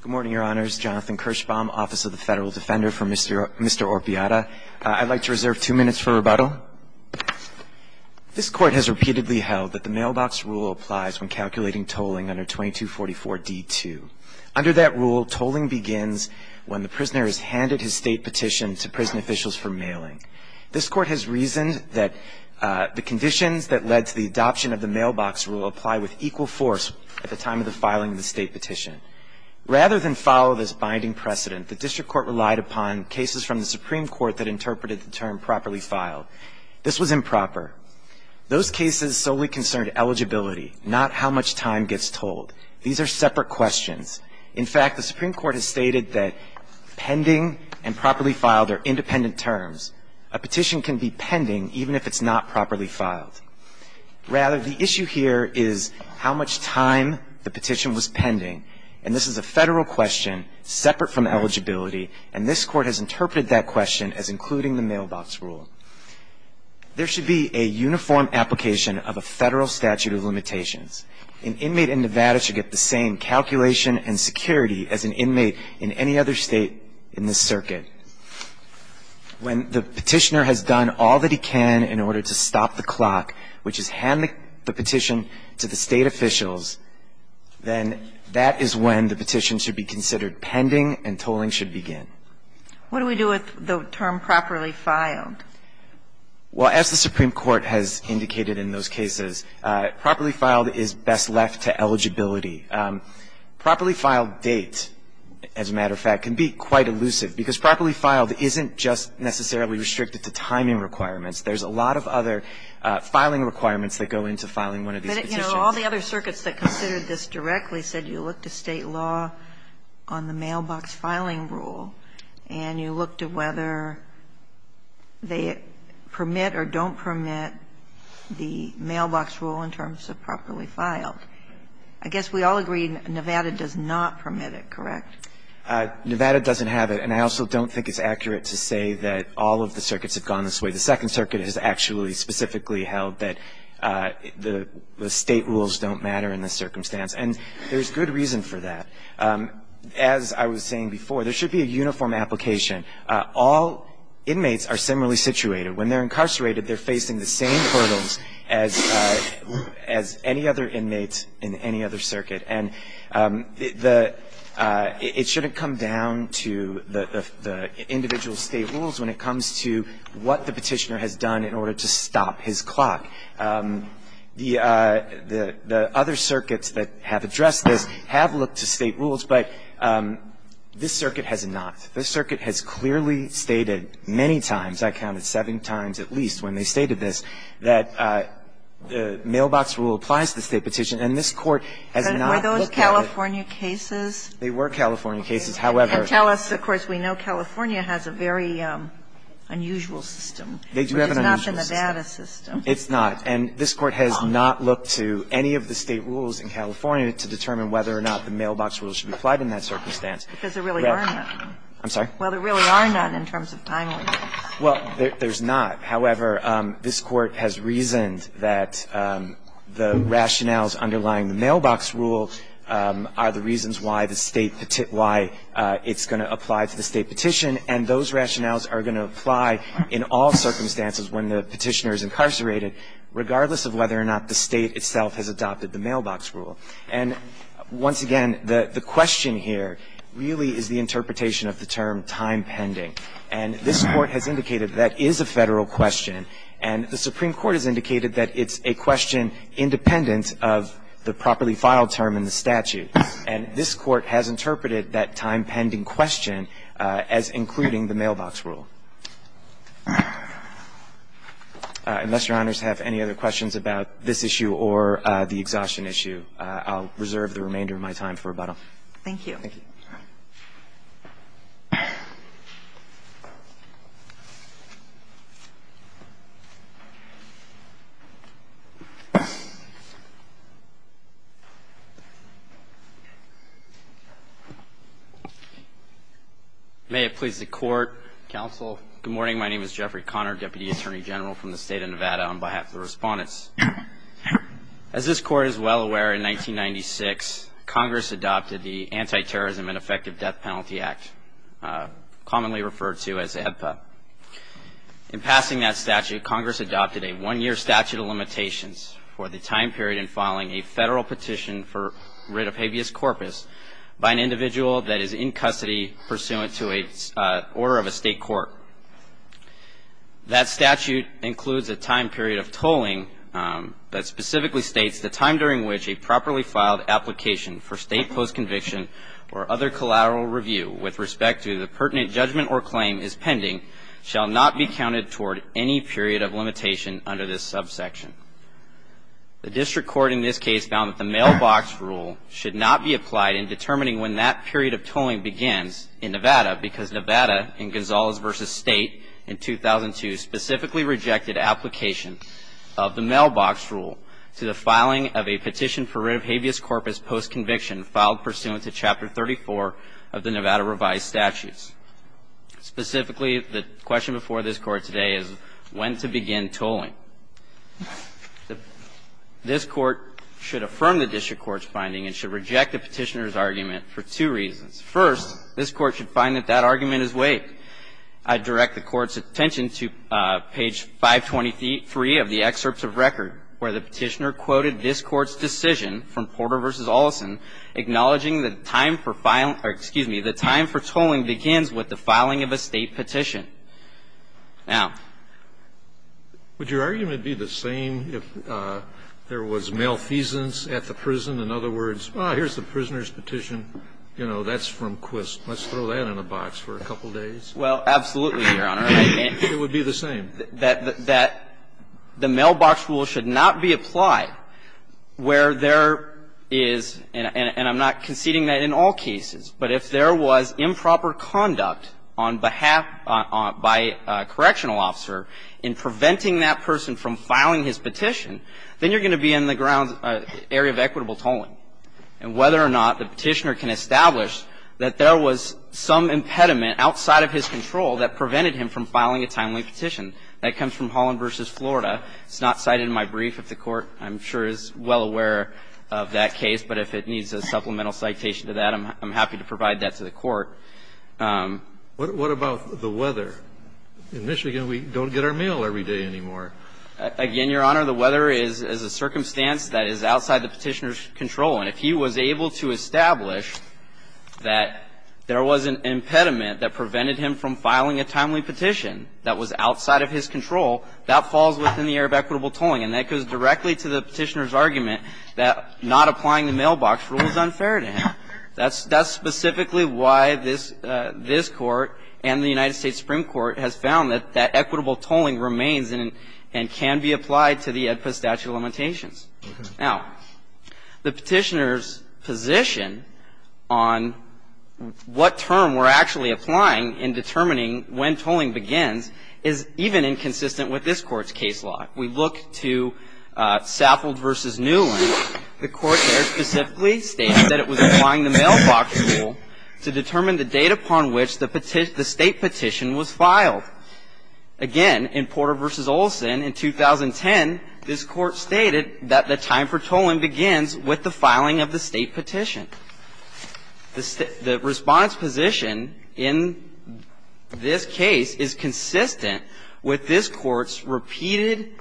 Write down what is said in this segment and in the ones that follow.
Good morning, Your Honors. Jonathan Kirschbaum, Office of the Federal Defender for Mr. Orpiada. I'd like to reserve two minutes for rebuttal. This Court has repeatedly held that the mailbox rule applies when calculating tolling under 2244d-2. Under that rule, tolling begins when the prisoner has handed his State petition to prison officials for mailing. This Court has reasoned that the conditions that led to the adoption of the mailbox rule apply with equal force at the time of the filing of the State petition. Rather than follow this binding precedent, the District Court relied upon cases from the Supreme Court that interpreted the term properly filed. This was improper. Those cases solely concerned eligibility, not how much time gets tolled. These are separate questions. In fact, the Supreme Court has stated that pending and properly filed are independent terms. A petition can be pending even if it's not properly filed. Rather, the issue here is how much time the petition was pending. And this is a Federal question separate from eligibility, and this Court has interpreted that question as including the mailbox rule. There should be a uniform application of a Federal statute of limitations. An inmate in Nevada should get the same calculation and security as an inmate in any other State in this circuit. When the petitioner has done all that he can in order to stop the clock, which is hand the petition to the State officials, then that is when the petition should be considered pending and tolling should begin. What do we do with the term properly filed? Well, as the Supreme Court has indicated in those cases, properly filed is best left to eligibility. Properly filed date, as a matter of fact, can be quite elusive, because properly filed isn't just necessarily restricted to timing requirements. There's a lot of other filing requirements that go into filing one of these petitions. But, you know, all the other circuits that considered this directly said you look to State law on the mailbox filing rule, and you look to whether they permit or don't permit the mailbox rule in terms of properly filed. I guess we all agree Nevada does not permit it, correct? Nevada doesn't have it. And I also don't think it's accurate to say that all of the circuits have gone this way. The Second Circuit has actually specifically held that the State rules don't matter in this circumstance. And there's good reason for that. As I was saying before, there should be a uniform application. All inmates are similarly situated. When they're incarcerated, they're facing the same hurdles as any other inmate in any other circuit. And it shouldn't come down to the individual State rules when it comes to what the Petitioner has done in order to stop his clock. The other circuits that have addressed this have looked to State rules, but this circuit has not. This circuit has clearly stated many times, I count it seven times at least when they stated this, that the mailbox rule applies to the State petition, and this Court has not looked at it. And were those California cases? They were California cases, however. And tell us, of course, we know California has a very unusual system. They do have an unusual system. Which is not in the Nevada system. It's not. And this Court has not looked to any of the State rules in California to determine whether or not the mailbox rule should be applied in that circumstance. Because there really are none. I'm sorry? Well, there really are none in terms of time limits. Well, there's not. However, this Court has reasoned that the rationales underlying the mailbox rule are the reasons why the State why it's going to apply to the State petition, and those rationales are going to apply in all circumstances when the Petitioner is incarcerated, regardless of whether or not the State itself has adopted the mailbox rule. And once again, the question here really is the interpretation of the term, time-pending. And this Court has indicated that is a Federal question, and the Supreme Court has indicated that it's a question independent of the properly filed term in the statute. And this Court has interpreted that time-pending question as including the mailbox rule. Unless Your Honors have any other questions about this issue or the exhaustion issue, I'll reserve the remainder of my time for rebuttal. Thank you. Thank you. All right. May it please the Court, counsel. Good morning. My name is Jeffrey Conner, Deputy Attorney General from the State of Nevada, on behalf of the Respondents. As this Court is well aware, in 1996, Congress adopted the Anti-Terrorism and Effective Death Penalty Act, commonly referred to as AEDPA. In passing that statute, Congress adopted a one-year statute of limitations for the time period in filing a Federal petition for writ of habeas corpus by an individual that is in custody pursuant to an order of a State court. That statute includes a time period of tolling that specifically states, the time during which a properly filed application for State post-conviction or other collateral review with respect to the pertinent judgment or claim is pending shall not be counted toward any period of limitation under this subsection. The District Court in this case found that the mailbox rule should not be applied in determining when that period of tolling begins in Nevada because Nevada, in Gonzalez v. State in 2002, specifically rejected application of the mailbox rule to the filing of a petition for writ of habeas corpus post-conviction filed pursuant to Chapter 34 of the Nevada Revised Statutes. Specifically, the question before this Court today is when to begin tolling. This Court should affirm the District Court's finding and should reject the petitioner's argument for two reasons. First, this Court should find that that argument is waived. I direct the Court's attention to page 523 of the excerpts of record where the petitioner quoted this Court's decision from Porter v. Olson acknowledging the time for filing or, excuse me, the time for tolling begins with the filing of a State petition. Now, would your argument be the same if there was malfeasance at the prison? In other words, well, here's the prisoner's petition. You know, that's from Quist. Let's throw that in a box for a couple days. Well, absolutely, Your Honor. It would be the same. That the mailbox rule should not be applied where there is, and I'm not conceding that in all cases, but if there was improper conduct on behalf by a correctional officer in preventing that person from filing his petition, then you're going to be in the ground area of equitable tolling. And whether or not the petitioner can establish that there was some impediment outside of his control that prevented him from filing a timely petition, that comes from Holland v. Florida. It's not cited in my brief. If the Court, I'm sure, is well aware of that case, but if it needs a supplemental citation to that, I'm happy to provide that to the Court. What about the weather? In Michigan, we don't get our meal every day anymore. Again, Your Honor, the weather is a circumstance that is outside the petitioner's control. And if he was able to establish that there was an impediment that prevented him from filing a timely petition that was outside of his control, that falls within the area of equitable tolling. And that goes directly to the petitioner's argument that not applying the mailbox rule is unfair to him. That's specifically why this Court and the United States Supreme Court has found that equitable tolling remains and can be applied to the AEDPA statute of limitations. Now, the petitioner's position on what term we're actually applying in determining when tolling begins is even inconsistent with this Court's case law. We look to Saffold v. Newland. The Court there specifically states that it was applying the mailbox rule to determine the date upon which the State petition was filed. Again, in Porter v. Olson, in 2010, this Court stated that the time for tolling begins with the filing of the State petition. The response position in this case is consistent with this Court's repeated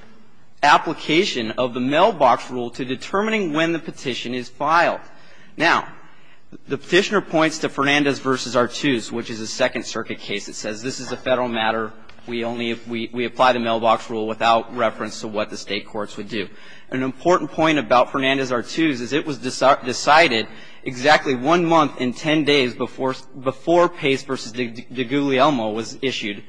application of the mailbox rule to determining when the petition is filed. Now, the petitioner points to Fernandez v. Artuse, which is a Second Circuit case that says this is a Federal matter, we apply the mailbox rule without reference to what the State courts would do. An important point about Fernandez v. Artuse is it was decided exactly one month and ten days before Pace v. DeGuglielmo was issued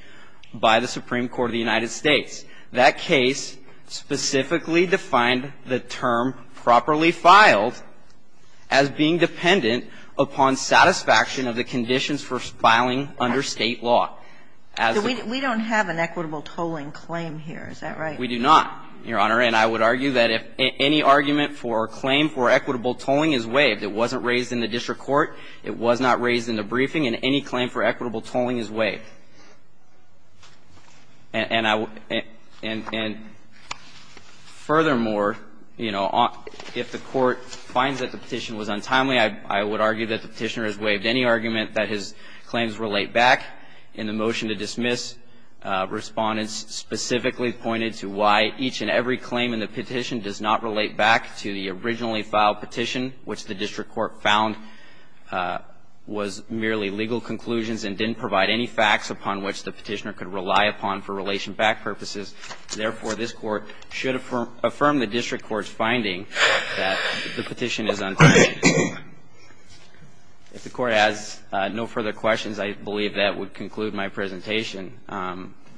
by the Supreme Court of the United States. That case specifically defined the term properly filed as being dependent upon satisfaction of the conditions for filing under State law. As we don't have an equitable tolling claim here, is that right? We do not, Your Honor. And I would argue that if any argument for a claim for equitable tolling is waived, it wasn't raised in the district court, it was not raised in the briefing, and any claim for equitable tolling is waived. And I would and furthermore, you know, if the Court finds that the petition was untimely, I would argue that the petitioner has waived any argument that his claims relate back. In the motion to dismiss, Respondents specifically pointed to why each and every claim in the petition does not relate back to the originally filed petition, which the district court found was merely legal conclusions and didn't provide any facts upon which the petitioner could rely upon for relation-backed purposes. Therefore, this Court should affirm the district court's finding that the petition is untimely. If the Court has no further questions, I believe that would conclude my presentation.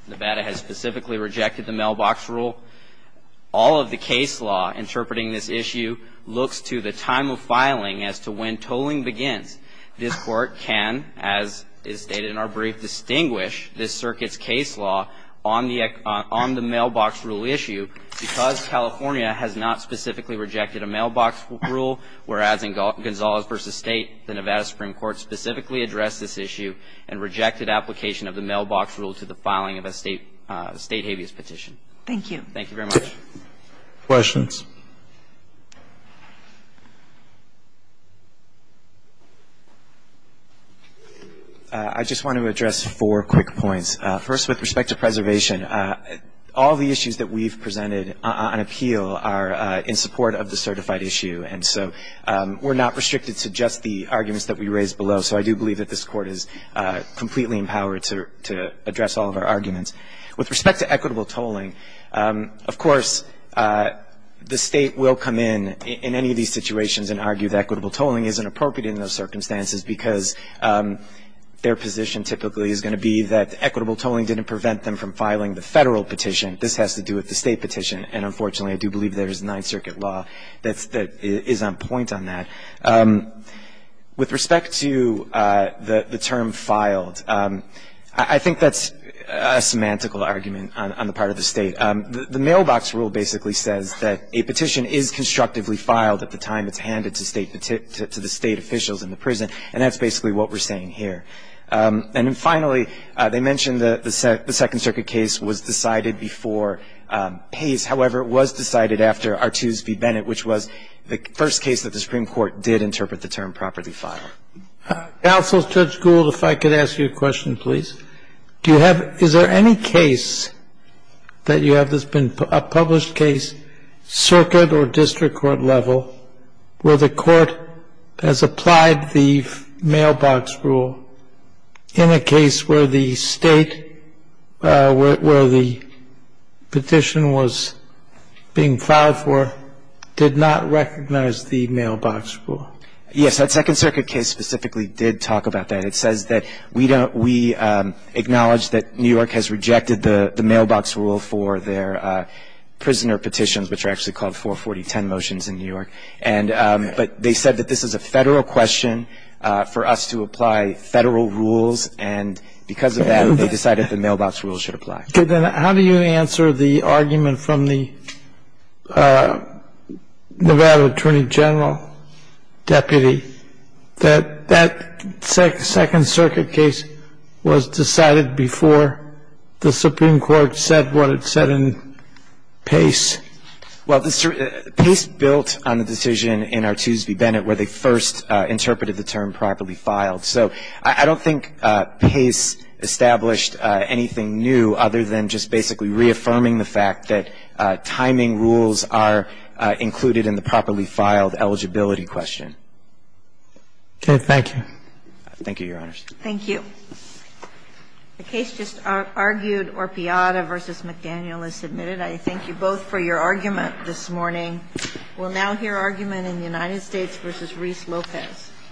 Nevada has specifically rejected the mailbox rule. All of the case law interpreting this issue looks to the time of filing as to when tolling begins. This Court can, as is stated in our brief, distinguish this circuit's case law on the issue because California has not specifically rejected a mailbox rule, whereas in Gonzalez v. State, the Nevada Supreme Court specifically addressed this issue and rejected application of the mailbox rule to the filing of a State habeas petition. Thank you. Thank you very much. Questions? I just want to address four quick points. First, with respect to preservation, all the issues that we've presented on appeal are in support of the certified issue, and so we're not restricted to just the arguments that we raised below. So I do believe that this Court is completely empowered to address all of our arguments. With respect to equitable tolling, of course, the State will come in in any of these situations and argue that equitable tolling isn't appropriate in those circumstances because their position typically is going to be that equitable tolling didn't prevent them from filing the Federal petition. This has to do with the State petition, and unfortunately, I do believe there is a Ninth Circuit law that is on point on that. With respect to the term filed, I think that's a semantical argument on the part of the State. The mailbox rule basically says that a petition is constructively filed at the time it's filed, and that's basically what we're saying here. And then finally, they mentioned that the Second Circuit case was decided before Pace. However, it was decided after Artuse v. Bennett, which was the first case that the Supreme Court did interpret the term properly filed. Counsel, Judge Gould, if I could ask you a question, please. Do you have — is there any case that you have that's been — a published case, or district court level, where the court has applied the mailbox rule in a case where the State — where the petition was being filed for did not recognize the mailbox rule? Yes, that Second Circuit case specifically did talk about that. It says that we acknowledge that New York has rejected the mailbox rule for their prisoner petitions, which are actually called 44010 motions in New York. And — but they said that this is a Federal question for us to apply Federal rules, and because of that, they decided the mailbox rule should apply. Okay. Then how do you answer the argument from the Nevada Attorney General deputy that that Second Circuit case was decided before the Supreme Court said what it said in Pace, which is that it was a Federal case? Well, Pace built on the decision in Artoos v. Bennett where they first interpreted the term properly filed. So I don't think Pace established anything new other than just basically reaffirming the fact that timing rules are included in the properly filed eligibility question. Okay. Thank you. Thank you, Your Honors. Thank you. The case just argued, Orpillada v. McDaniel, is submitted. I thank you both for your argument this morning. We'll now hear argument in the United States v. Reese Lopez.